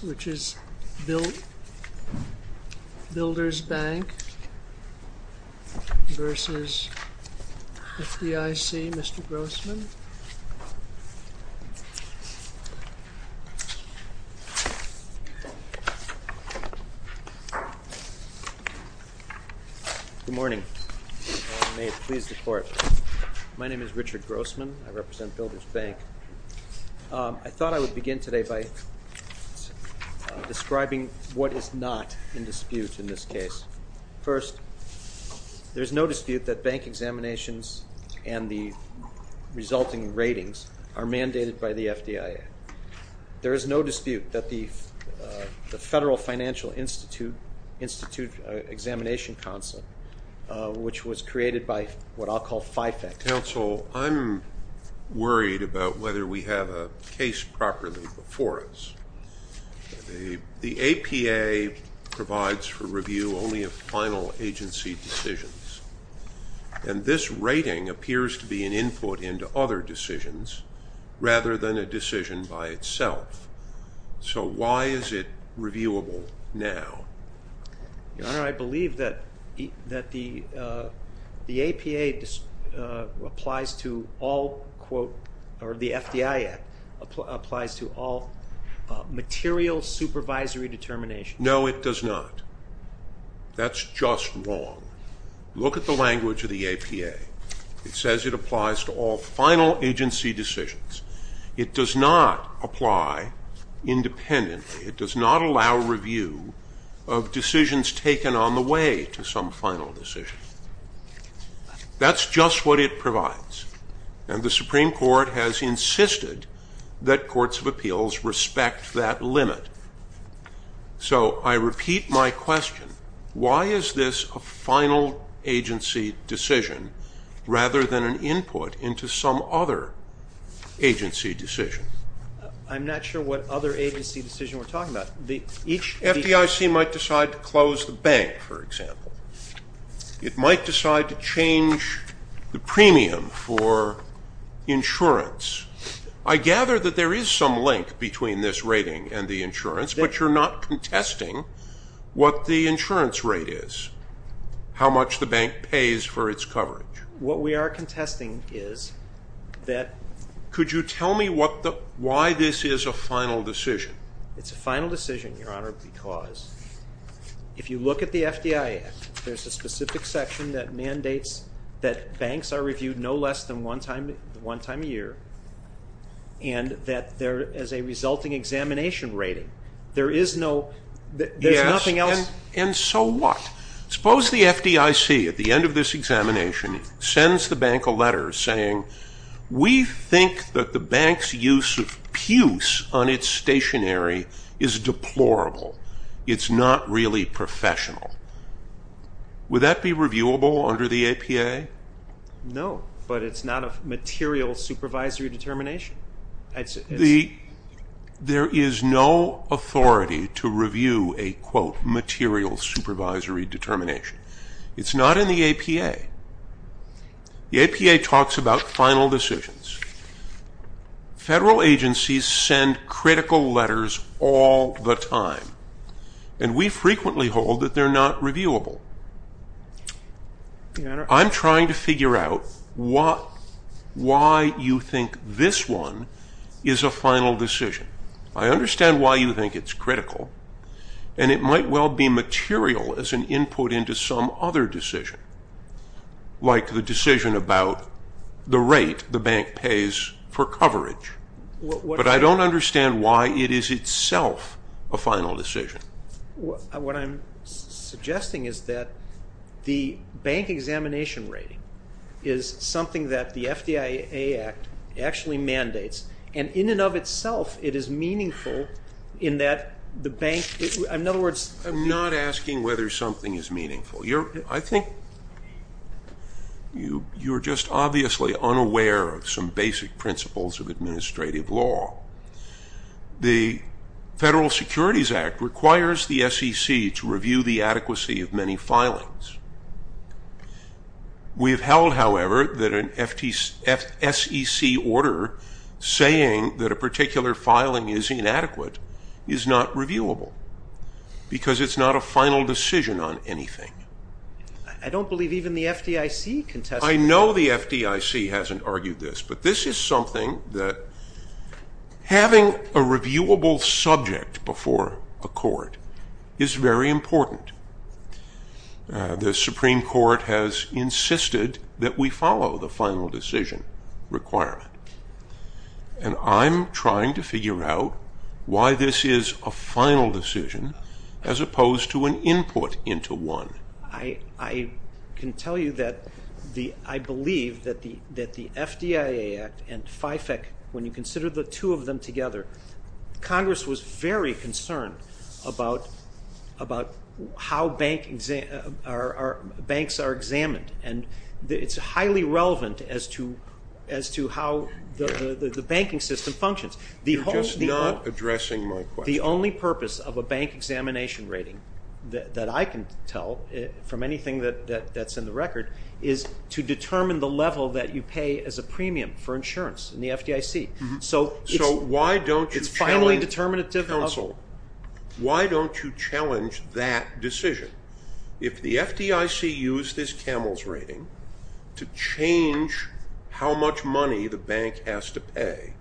which is Builders Bank v. FDIC. Mr. Grossman. Good morning. May it please the Court. My name is Richard Grossman. I represent Builders Bank. I thought I would begin today by describing what is not in dispute in this case. First, there is no dispute that bank examinations and the resulting ratings are mandated by the FDIC. There is no dispute that the Federal Financial Institute Examination Council, which was created by what I'll call FIFAC. Counsel, I'm worried about whether we have a case properly before us. The APA provides for review only of final agency decisions. And this rating appears to be an input into other decisions rather than a decision by itself. So why is it reviewable now? Your Honor, I believe that the APA applies to all material supervisory determinations. No, it does not. That's just wrong. Look at the language of the APA. It says it applies to all final agency decisions. It does not apply independently. It does not allow review of decisions taken on the way to some final decision. That's just what it provides. And the Supreme Court has insisted that courts of appeals respect that limit. So I repeat my question. Why is this a final agency decision rather than an input into some other agency decision? I'm not sure what other agency decision we're talking about. Each FDIC might decide to close the bank, for example. It might decide to change the premium for insurance. I gather that there is some link between this rating and the insurance, but you're not contesting what the insurance rate is, how much the bank pays for its coverage. What we are contesting is that Could you tell me why this is a final decision? It's a final decision, Your Honor, because if you look at the FDIC, there's a specific section that mandates that banks are reviewed no less than one time a year, and that there is a resulting examination rating. There is nothing else. And so what? Suppose the FDIC, at the end of this examination, sends the bank a letter saying, We think that the bank's use of pews on its stationary is deplorable. It's not really professional. Would that be reviewable under the APA? No, but it's not a material supervisory determination. There is no authority to review a, quote, material supervisory determination. It's not in the APA. The APA talks about final decisions. Federal agencies send critical letters all the time, and we frequently hold that they're not reviewable. I'm trying to figure out why you think this one is a final decision. I understand why you think it's critical, and it might well be material as an input into some other decision, like the decision about the rate the bank pays for coverage. But I don't understand why it is itself a final decision. What I'm suggesting is that the bank examination rating is something that the FDIC Act actually mandates, and in and of itself, it is meaningful in that the bank, in other words. I'm not asking whether something is meaningful. I think you're just obviously unaware of some basic principles of administrative law. The Federal Securities Act requires the SEC to review the adequacy of many filings. We have held, however, that an SEC order saying that a particular filing is inadequate is not reviewable because it's not a final decision on anything. I don't believe even the FDIC contested that. I know the FDIC hasn't argued this, but this is something that having a reviewable subject before a court is very important. The Supreme Court has insisted that we follow the final decision requirement, and I'm trying to figure out why this is a final decision as opposed to an input into one. I can tell you that I believe that the FDIC Act and FIFAC, when you consider the two of them together, Congress was very concerned about how banks are examined, and it's highly relevant as to how the banking system functions. You're just not addressing my question. The only purpose of a bank examination rating that I can tell from anything that's in the record is to determine the level that you pay as a premium for insurance in the FDIC. So why don't you challenge that decision? If the FDIC used this CAMELS rating to change how much money the bank has to pay,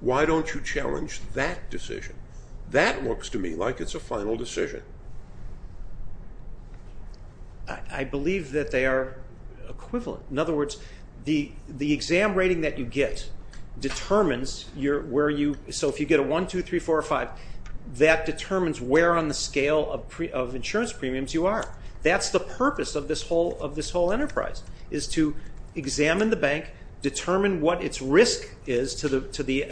why don't you challenge that decision? That looks to me like it's a final decision. I believe that they are equivalent. In other words, the exam rating that you get determines where you— That's the purpose of this whole enterprise, is to examine the bank, determine what its risk is to the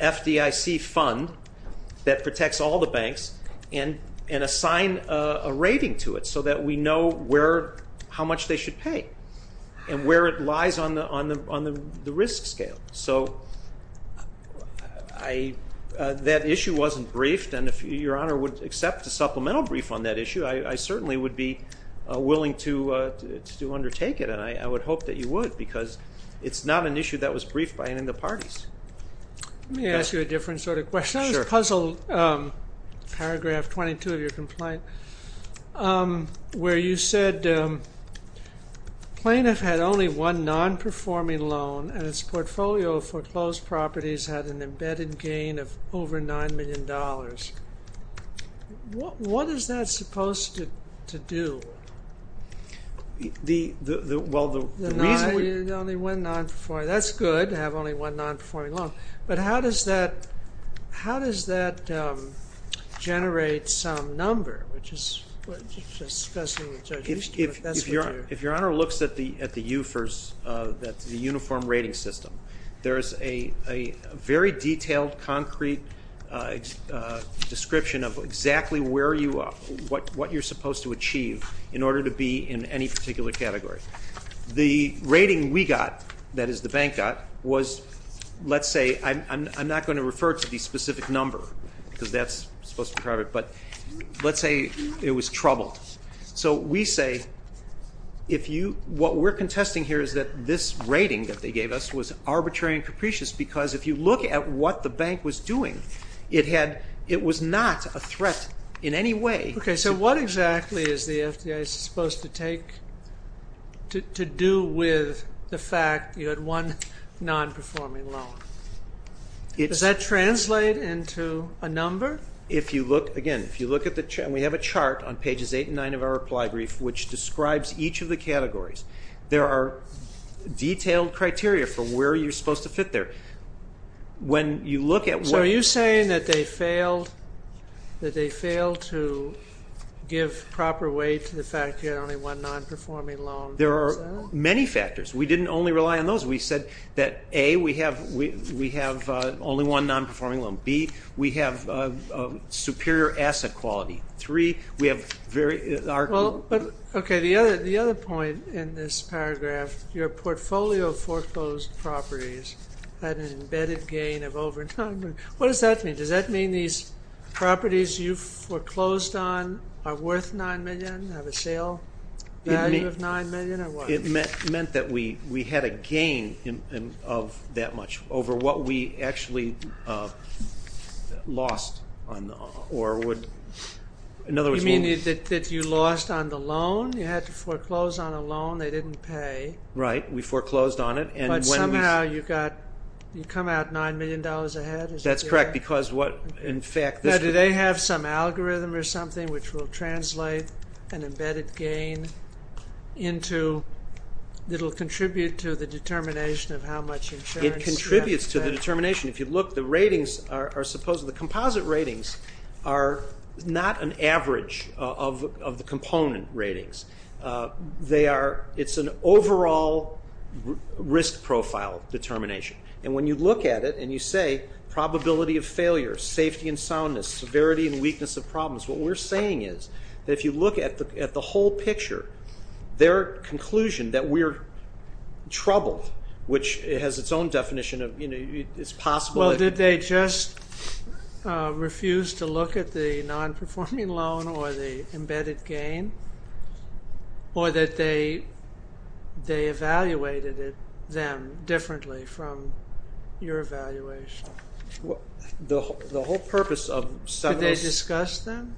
FDIC fund that protects all the banks, and assign a rating to it so that we know how much they should pay and where it lies on the risk scale. So that issue wasn't briefed, and if Your Honor would accept a supplemental brief on that issue, I certainly would be willing to undertake it, and I would hope that you would, because it's not an issue that was briefed by any of the parties. Let me ask you a different sort of question. Sure. There's a puzzle, paragraph 22 of your complaint, where you said, plaintiff had only one non-performing loan, and its portfolio of foreclosed properties had an embedded gain of over $9 million. What is that supposed to do? Well, the reason— But how does that generate some number? If Your Honor looks at the uniform rating system, there is a very detailed, concrete description of exactly what you're supposed to achieve in order to be in any particular category. The rating we got, that is the bank got, was, let's say— I'm not going to refer to the specific number, because that's supposed to be private, but let's say it was troubled. So we say, what we're contesting here is that this rating that they gave us was arbitrary and capricious, because if you look at what the bank was doing, it was not a threat in any way. Okay, so what exactly is the FDIC supposed to do with the fact you had one non-performing loan? Does that translate into a number? Again, if you look at the chart, and we have a chart on pages 8 and 9 of our reply brief, which describes each of the categories, there are detailed criteria for where you're supposed to fit there. So are you saying that they failed to give proper weight to the fact you had only one non-performing loan? There are many factors. We didn't only rely on those. We said that, A, we have only one non-performing loan. B, we have superior asset quality. Well, okay, the other point in this paragraph, your portfolio foreclosed properties had an embedded gain of over $9 million. What does that mean? Does that mean these properties you foreclosed on are worth $9 million, have a sale value of $9 million, or what? It meant that we had a gain of that much over what we actually lost, or would, in other words... You mean that you lost on the loan? You had to foreclose on a loan. They didn't pay. Right, we foreclosed on it, and when we... But somehow you got, you come out $9 million ahead? That's correct, because what, in fact... Now, do they have some algorithm or something which will translate an embedded gain into, it'll contribute to the determination of how much insurance you have to pay? It contributes to the determination. If you look, the ratings are supposed to... The composite ratings are not an average of the component ratings. It's an overall risk profile determination, and when you look at it and you say probability of failure, safety and soundness, severity and weakness of problems, what we're saying is that if you look at the whole picture, their conclusion that we're troubled, which has its own definition of, you know, it's possible... Well, did they just refuse to look at the non-performing loan or the embedded gain, or that they evaluated them differently from your evaluation? The whole purpose of several... Did they discuss them?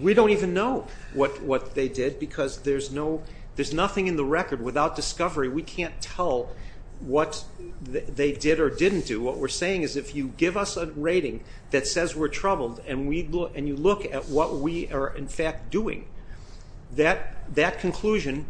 We don't even know what they did, because there's nothing in the record without discovery. We can't tell what they did or didn't do. What we're saying is if you give us a rating that says we're troubled and you look at what we are, in fact, doing, that conclusion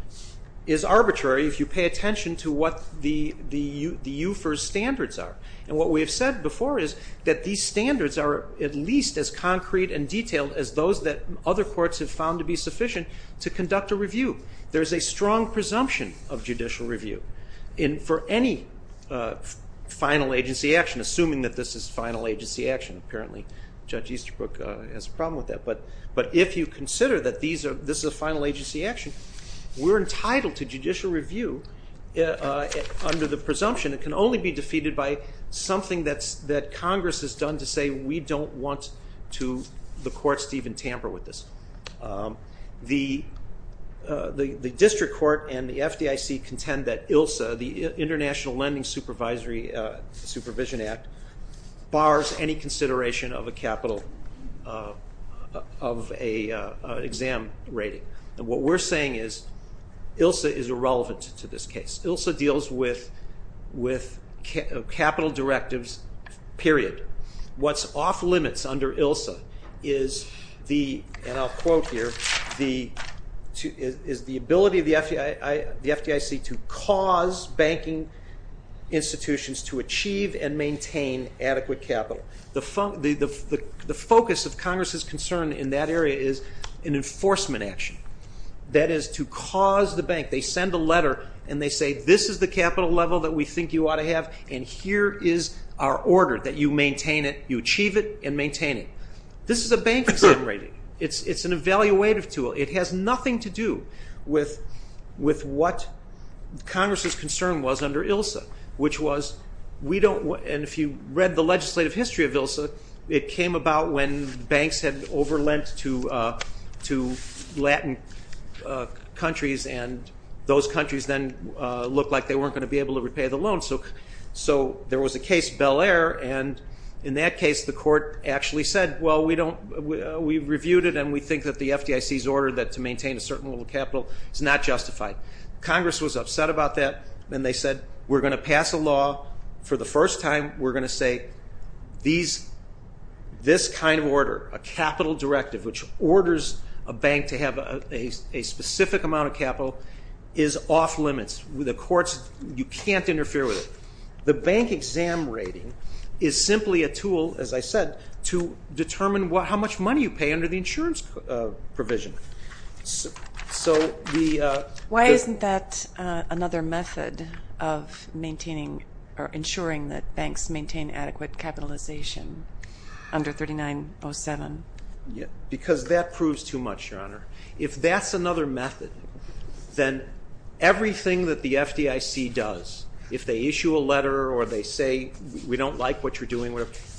is arbitrary if you pay attention to what the UFIRS standards are. And what we have said before is that these standards are at least as concrete and detailed as those that other courts have found to be sufficient to conduct a review. There is a strong presumption of judicial review for any final agency action, assuming that this is final agency action. Apparently Judge Easterbrook has a problem with that, but if you consider that this is a final agency action, we're entitled to judicial review under the presumption it can only be defeated by something that Congress has done to say we don't want the court to even tamper with this. The district court and the FDIC contend that ILSA, the International Lending Supervision Act, bars any consideration of a capital of an exam rating. What we're saying is ILSA is irrelevant to this case. ILSA deals with capital directives, period. What's off limits under ILSA is the ability of the FDIC to cause banking institutions to achieve and maintain adequate capital. The focus of Congress's concern in that area is an enforcement action. That is to cause the bank, they send a letter and they say this is the capital level that we think you ought to have and here is our order that you maintain it, you achieve it and maintain it. This is a bank exam rating. It's an evaluative tool. It has nothing to do with what Congress's concern was under ILSA, which was we don't want, and if you read the legislative history of ILSA, it came about when banks had over lent to Latin countries and those countries then looked like they weren't going to be able to repay the loan. So there was a case, Bel Air, and in that case the court actually said, well, we reviewed it and we think that the FDIC's order to maintain a certain level of capital is not justified. Congress was upset about that and they said we're going to pass a law for the first time. We're going to say this kind of order, a capital directive, which orders a bank to have a specific amount of capital is off limits. The courts, you can't interfere with it. The bank exam rating is simply a tool, as I said, to determine how much money you pay under the insurance provision. Why isn't that another method of ensuring that banks maintain adequate capitalization under 3907? Because that proves too much, Your Honor. If that's another method, then everything that the FDIC does, if they issue a letter or they say we don't like what you're doing,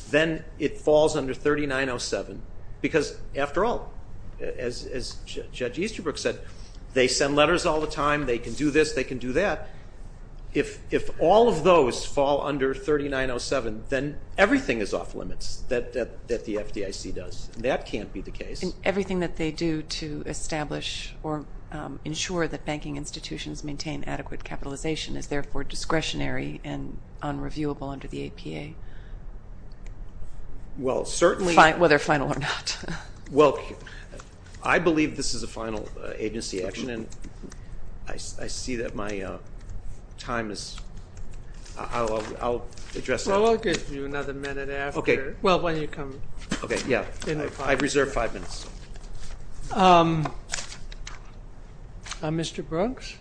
then it falls under 3907 because, after all, as Judge Easterbrook said, they send letters all the time, they can do this, they can do that. If all of those fall under 3907, then everything is off limits that the FDIC does. That can't be the case. Everything that they do to establish or ensure that banking institutions maintain adequate capitalization is therefore discretionary and unreviewable under the APA, whether final or not. Well, I believe this is a final agency action, and I see that my time is up. I'll address that. Well, I'll give you another minute after. Okay. Well, why don't you come in? Okay, yeah. I reserve five minutes. Mr. Brooks?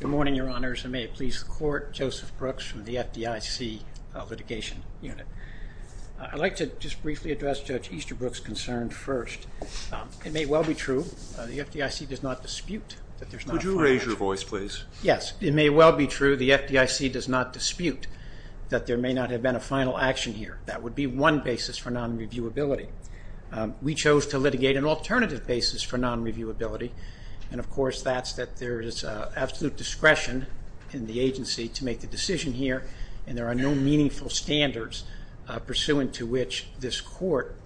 Good morning, Your Honors, and may it please the Court. Joseph Brooks from the FDIC Litigation Unit. I'd like to just briefly address Judge Easterbrook's concern first. It may well be true the FDIC does not dispute that there's not a final agency. Could you raise your voice, please? Yes, it may well be true the FDIC does not dispute that there may not have been a final action here. That would be one basis for non-reviewability. We chose to litigate an alternative basis for non-reviewability, and, of course, that's that there is absolute discretion in the agency to make the decision here, and there are no meaningful standards pursuant to which this Court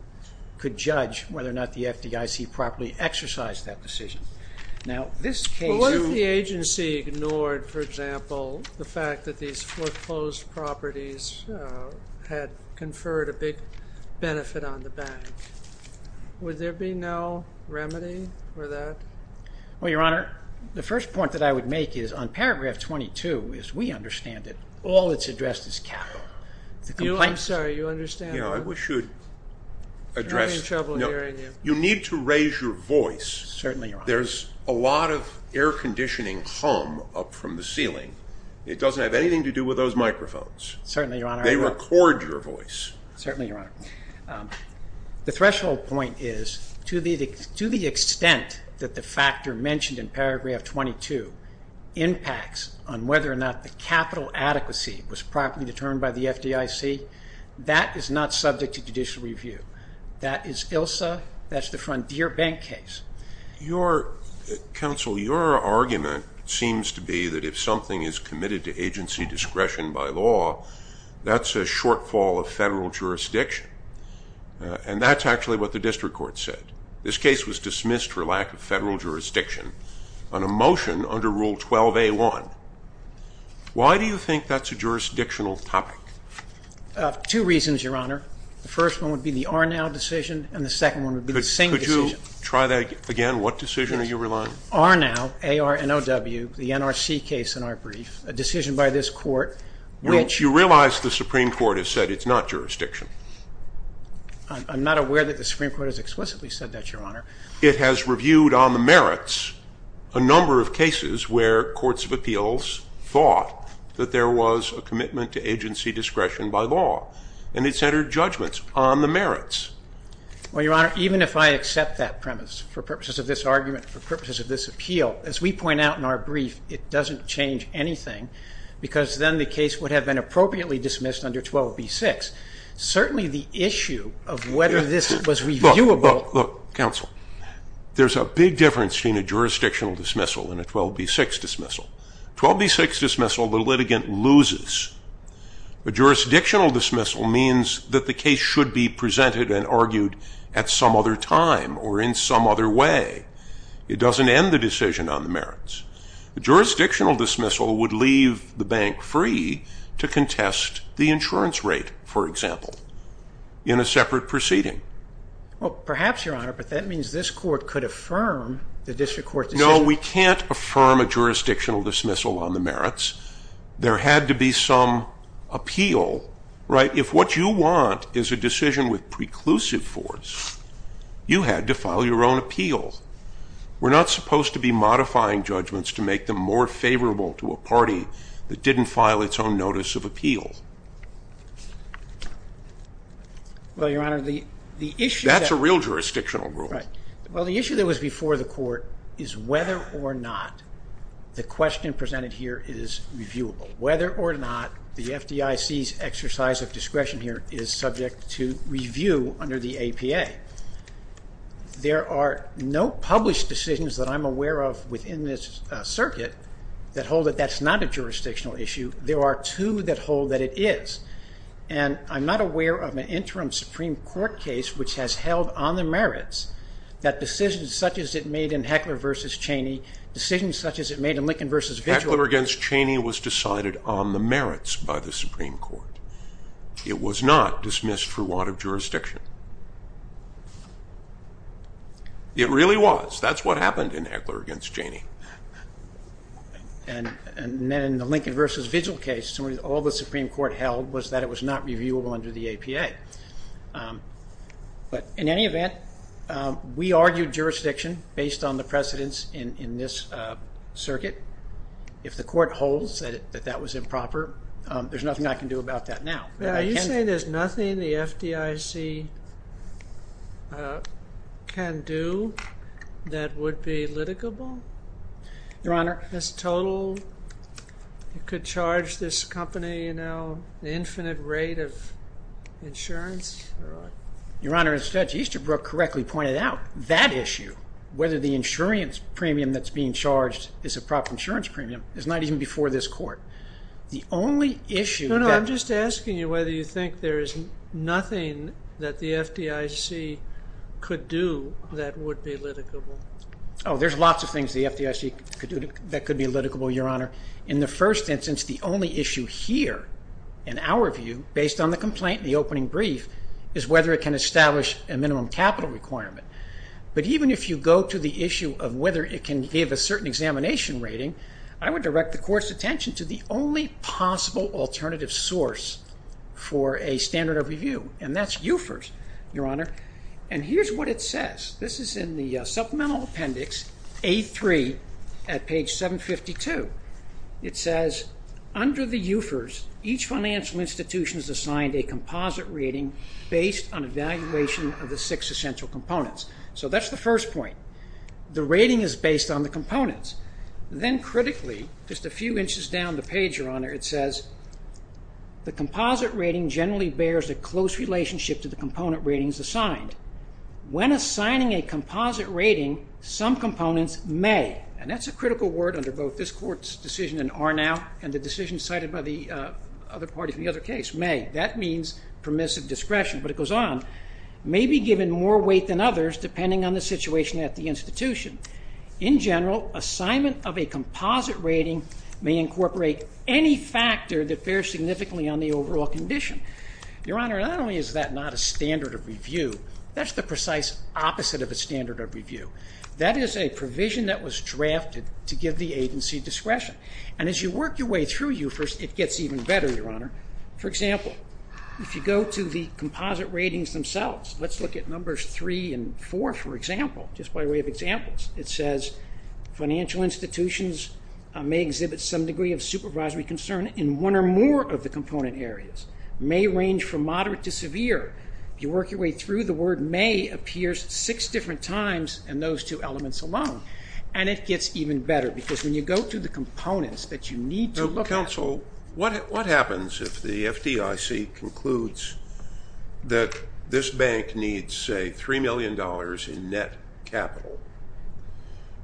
could judge whether or not the FDIC properly exercised that decision. Well, what if the agency ignored, for example, the fact that these foreclosed properties had conferred a big benefit on the bank? Would there be no remedy for that? Well, Your Honor, the first point that I would make is on paragraph 22, as we understand it, all that's addressed is capital. I'm sorry, you understand that? Yeah, I wish you'd address it. I'm having trouble hearing you. You need to raise your voice. Certainly, Your Honor. There's a lot of air conditioning hum up from the ceiling. It doesn't have anything to do with those microphones. Certainly, Your Honor. They record your voice. Certainly, Your Honor. The threshold point is to the extent that the factor mentioned in paragraph 22 impacts on whether or not the capital adequacy was properly determined by the FDIC, that is not subject to judicial review. That is ILSA. That's the Frontier Bank case. Counsel, your argument seems to be that if something is committed to agency discretion by law, that's a shortfall of federal jurisdiction. And that's actually what the district court said. This case was dismissed for lack of federal jurisdiction on a motion under Rule 12a1. Why do you think that's a jurisdictional topic? Two reasons, Your Honor. The first one would be the Arnow decision, and the second one would be the same decision. Could you try that again? What decision are you relying on? Arnow, A-R-N-O-W, the NRC case in our brief, a decision by this court which you realize the Supreme Court has said it's not jurisdiction. I'm not aware that the Supreme Court has explicitly said that, Your Honor. It has reviewed on the merits a number of cases where courts of appeals thought that there was a commitment to agency discretion by law. And it's entered judgments on the merits. Well, Your Honor, even if I accept that premise for purposes of this argument, for purposes of this appeal, as we point out in our brief, it doesn't change anything because then the case would have been appropriately dismissed under 12b-6. Certainly the issue of whether this was reviewable. Look, Counsel, there's a big difference between a jurisdictional dismissal and a 12b-6 dismissal. 12b-6 dismissal, the litigant loses. A jurisdictional dismissal means that the case should be presented and argued at some other time or in some other way. It doesn't end the decision on the merits. A jurisdictional dismissal would leave the bank free to contest the insurance rate, for example, in a separate proceeding. Well, perhaps, Your Honor, but that means this court could affirm the district court's decision. No, we can't affirm a jurisdictional dismissal on the merits. There had to be some appeal, right? If what you want is a decision with preclusive force, you had to file your own appeal. We're not supposed to be modifying judgments to make them more favorable to a party that didn't file its own notice of appeal. Well, Your Honor, the issue that... That's a real jurisdictional rule. Right. Well, the issue that was before the court is whether or not the question presented here is reviewable, whether or not the FDIC's exercise of discretion here is subject to review under the APA. There are no published decisions that I'm aware of within this circuit that hold that that's not a jurisdictional issue. There are two that hold that it is. And I'm not aware of an interim Supreme Court case which has held on the merits that decisions such as it made in Heckler v. Cheney, decisions such as it made in Lincoln v. Vigil... Heckler v. Cheney was decided on the merits by the Supreme Court. It was not dismissed for want of jurisdiction. It really was. That's what happened in Heckler v. Cheney. And then in the Lincoln v. Vigil case, all the Supreme Court held was that it was not reviewable under the APA. But in any event, we argued jurisdiction based on the precedence in this circuit. If the court holds that that was improper, there's nothing I can do about that now. Are you saying there's nothing the FDIC can do that would be litigable? Your Honor... This total, you could charge this company, you know, the infinite rate of insurance? Your Honor, as Judge Easterbrook correctly pointed out, that issue, whether the insurance premium that's being charged is a proper insurance premium, is not even before this court. The only issue... I'm just asking you whether you think there is nothing that the FDIC could do that would be litigable. Oh, there's lots of things the FDIC could do that could be litigable, Your Honor. In the first instance, the only issue here, in our view, based on the complaint in the opening brief, is whether it can establish a minimum capital requirement. But even if you go to the issue of whether it can give a certain examination rating, I would direct the court's attention to the only possible alternative source for a standard of review, and that's UFERS, Your Honor. And here's what it says. This is in the supplemental appendix, A3, at page 752. It says, under the UFERS, each financial institution is assigned a composite rating based on evaluation of the six essential components. So that's the first point. The rating is based on the components. Then critically, just a few inches down the page, Your Honor, it says, the composite rating generally bears a close relationship to the component ratings assigned. When assigning a composite rating, some components may, and that's a critical word under both this court's decision in Arnow and the decision cited by the other parties in the other case, may. That means permissive discretion. But it goes on. May be given more weight than others depending on the situation at the institution. In general, assignment of a composite rating may incorporate any factor that bears significantly on the overall condition. Your Honor, not only is that not a standard of review, that's the precise opposite of a standard of review. That is a provision that was drafted to give the agency discretion. And as you work your way through UFERS, it gets even better, Your Honor. For example, if you go to the composite ratings themselves, let's look at numbers three and four, for example, just by way of examples. It says financial institutions may exhibit some degree of supervisory concern in one or more of the component areas. May range from moderate to severe. If you work your way through, the word may appears six different times in those two elements alone. And it gets even better because when you go through the components that you need to look at. Counsel, what happens if the FDIC concludes that this bank needs, say, $3 million in net capital,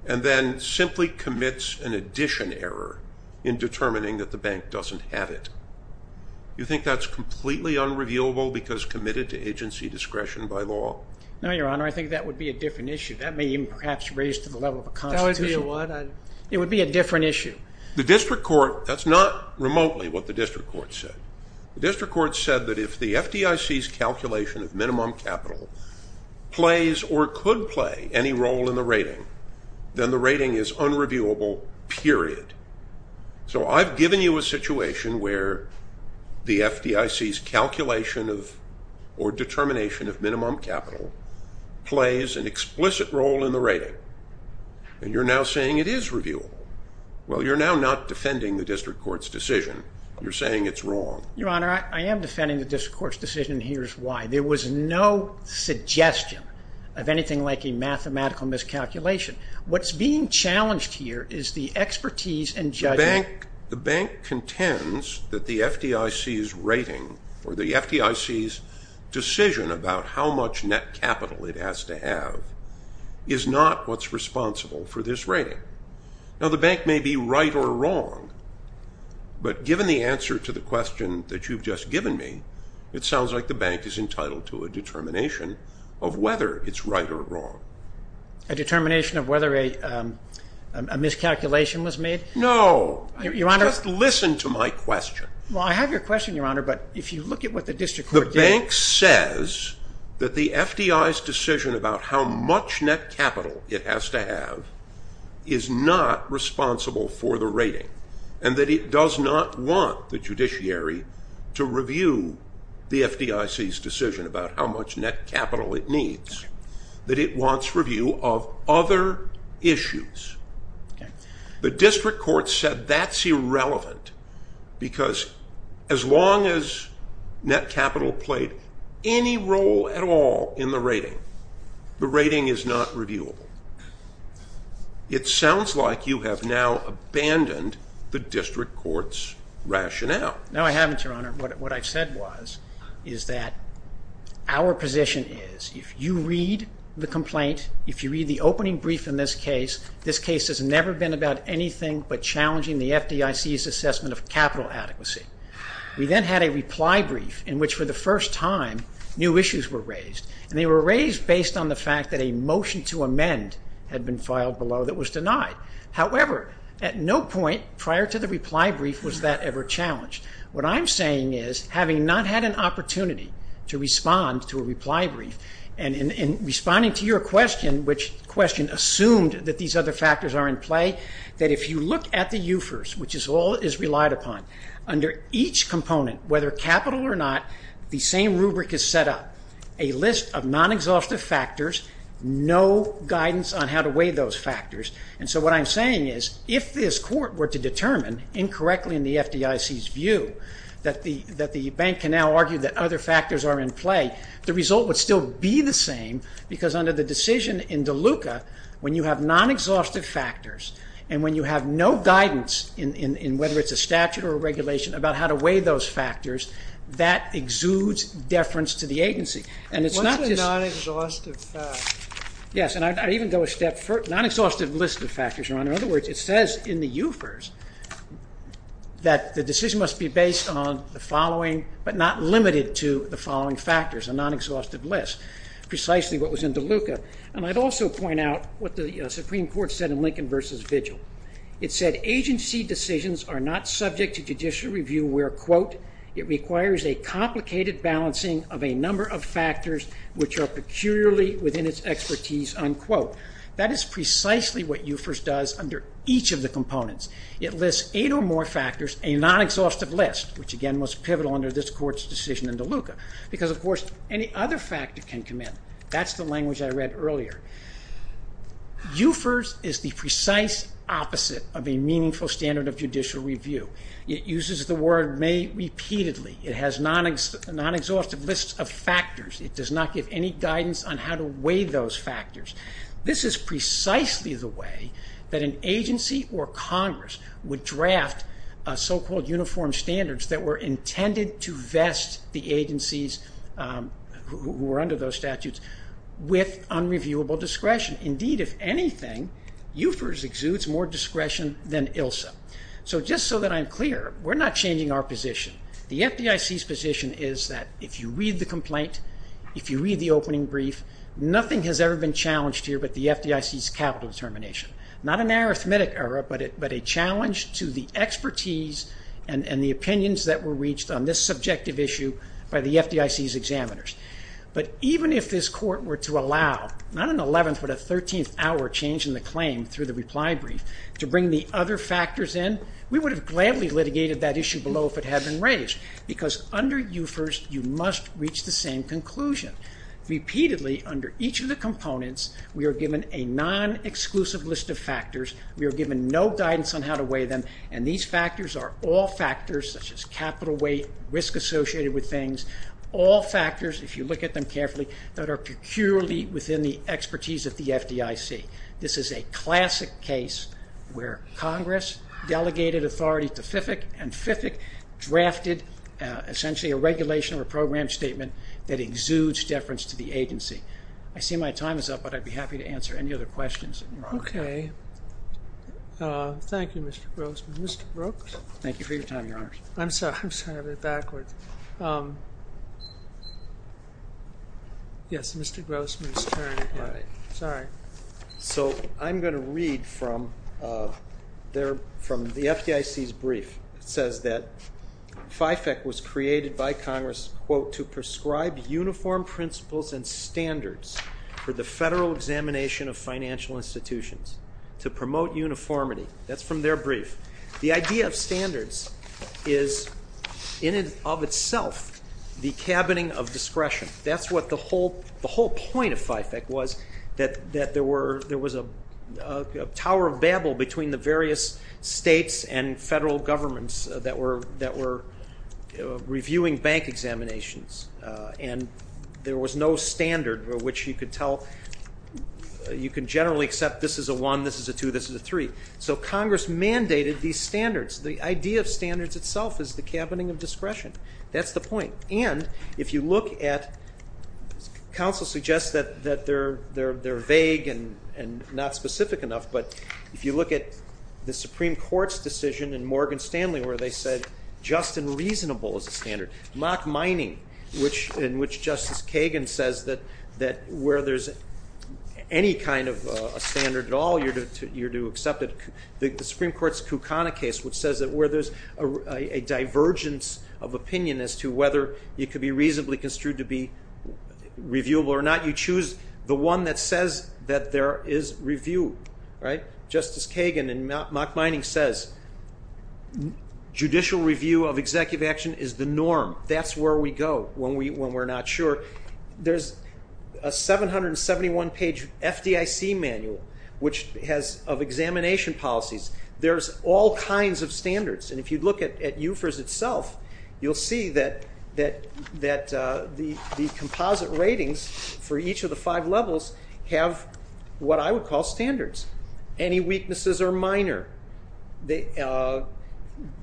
and then simply commits an addition error in determining that the bank doesn't have it? You think that's completely unrevealable because committed to agency discretion by law? No, Your Honor. I think that would be a different issue. That may even perhaps raise to the level of a constitution. That would be a what? It would be a different issue. The district court, that's not remotely what the district court said. The district court said that if the FDIC's calculation of minimum capital plays or could play any role in the rating, then the rating is unreviewable, period. So I've given you a situation where the FDIC's calculation or determination of minimum capital plays an explicit role in the rating. And you're now saying it is reviewable. Well, you're now not defending the district court's decision. You're saying it's wrong. Your Honor, I am defending the district court's decision, and here's why. There was no suggestion of anything like a mathematical miscalculation. What's being challenged here is the expertise and judgment. The bank contends that the FDIC's rating or the FDIC's decision about how much net capital it has to have is not what's responsible for this rating. Now, the bank may be right or wrong, but given the answer to the question that you've just given me, it sounds like the bank is entitled to a determination of whether it's right or wrong. A determination of whether a miscalculation was made? No. Your Honor. Just listen to my question. Well, I have your question, Your Honor, but if you look at what the district court did. The bank says that the FDIC's decision about how much net capital it has to have is not responsible for the rating, and that it does not want the judiciary to review the FDIC's decision about how much net capital it needs, that it wants review of other issues. The district court said that's irrelevant because as long as net capital played any role at all in the rating, the rating is not reviewable. It sounds like you have now abandoned the district court's rationale. Your Honor, what I said was is that our position is if you read the complaint, if you read the opening brief in this case, this case has never been about anything but challenging the FDIC's assessment of capital adequacy. We then had a reply brief in which for the first time new issues were raised, and they were raised based on the fact that a motion to amend had been filed below that was denied. However, at no point prior to the reply brief was that ever challenged. What I'm saying is, having not had an opportunity to respond to a reply brief, and in responding to your question, which assumed that these other factors are in play, that if you look at the UFERS, which all is relied upon, under each component, whether capital or not, the same rubric is set up. A list of non-exhaustive factors, no guidance on how to weigh those factors. And so what I'm saying is, if this court were to determine, incorrectly in the FDIC's view, that the bank can now argue that other factors are in play, the result would still be the same, because under the decision in Deluca, when you have non-exhaustive factors, and when you have no guidance in whether it's a statute or a regulation about how to weigh those factors, that exudes deference to the agency. What's a non-exhaustive factor? Yes, and I'd even go a step further. Non-exhaustive list of factors, Your Honor. In other words, it says in the UFERS that the decision must be based on the following, but not limited to the following factors, a non-exhaustive list, precisely what was in Deluca. And I'd also point out what the Supreme Court said in Lincoln v. Vigil. It said agency decisions are not subject to judicial review where, quote, it requires a complicated balancing of a number of factors which are peculiarly within its expertise, unquote. That is precisely what UFERS does under each of the components. It lists eight or more factors, a non-exhaustive list, which again was pivotal under this court's decision in Deluca, because, of course, any other factor can come in. That's the language I read earlier. UFERS is the precise opposite of a meaningful standard of judicial review. It uses the word may repeatedly. It has non-exhaustive lists of factors. It does not give any guidance on how to weigh those factors. This is precisely the way that an agency or Congress would draft so-called uniform standards that were intended to vest the agencies who were under those statutes with unreviewable discretion. Indeed, if anything, UFERS exudes more discretion than ILSA. So just so that I'm clear, we're not changing our position. The FDIC's position is that if you read the complaint, if you read the opening brief, nothing has ever been challenged here but the FDIC's capital determination. Not an arithmetic error, but a challenge to the expertise and the opinions that were reached on this subjective issue by the FDIC's examiners. But even if this court were to allow not an 11th but a 13th hour change in the claim through the reply brief to bring the other factors in, we would have gladly litigated that issue below if it had been raised because under UFERS, you must reach the same conclusion. Repeatedly, under each of the components, we are given a non-exclusive list of factors. We are given no guidance on how to weigh them, and these factors are all factors such as capital weight, risk associated with things, all factors, if you look at them carefully, that are peculiarly within the expertise of the FDIC. This is a classic case where Congress delegated authority to FDIC and FDIC drafted essentially a regulation or a program statement that exudes deference to the agency. I see my time is up, but I'd be happy to answer any other questions. Okay. Thank you, Mr. Grossman. Mr. Brooks? Thank you for your time, Your Honors. I'm sorry. I'm sorry I went backwards. Yes, Mr. Grossman's turn. All right. Sorry. So I'm going to read from the FDIC's brief. It says that FIFAC was created by Congress, quote, to prescribe uniform principles and standards for the federal examination of financial institutions to promote uniformity. That's from their brief. The idea of standards is in and of itself the cabining of discretion. That's what the whole point of FIFAC was, that there was a tower of babble between the various states and federal governments that were reviewing bank examinations, and there was no standard which you could tell, you can generally accept this is a one, this is a two, this is a three. So Congress mandated these standards. The idea of standards itself is the cabining of discretion. That's the point. And if you look at, counsel suggests that they're vague and not specific enough, but if you look at the Supreme Court's decision in Morgan Stanley where they said just and reasonable is a standard, mock mining in which Justice Kagan says that where there's any kind of a standard at all, you're to accept it. The Supreme Court's Kucana case, which says that where there's a divergence of opinion as to whether it could be reasonably construed to be reviewable or not, you choose the one that says that there is review, right? Justice Kagan in mock mining says judicial review of executive action is the norm. That's where we go when we're not sure. There's a 771-page FDIC manual of examination policies. There's all kinds of standards. And if you look at UFERS itself, you'll see that the composite ratings for each of the five levels have what I would call standards. Any weaknesses are minor. They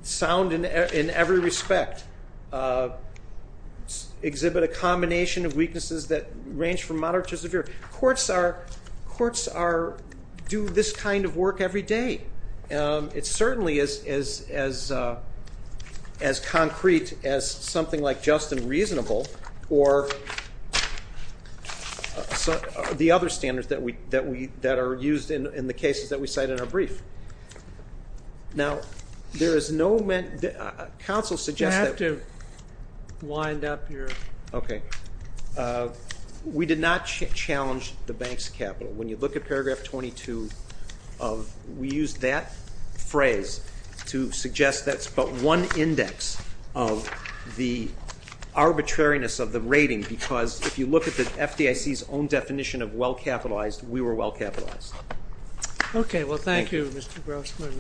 sound in every respect. Exhibit a combination of weaknesses that range from minor to severe. Courts do this kind of work every day. It certainly is as concrete as something like just and reasonable or the other standards that are used in the cases that we cite in our brief. Now, there is no ment—Counsel suggests that— You have to wind up your— Okay. We did not challenge the bank's capital. When you look at paragraph 22, we used that phrase to suggest that's but one index of the arbitrariness of the rating because if you look at the FDIC's own definition of well-capitalized, we were well-capitalized. Okay. Well, thank you, Mr. Grossman.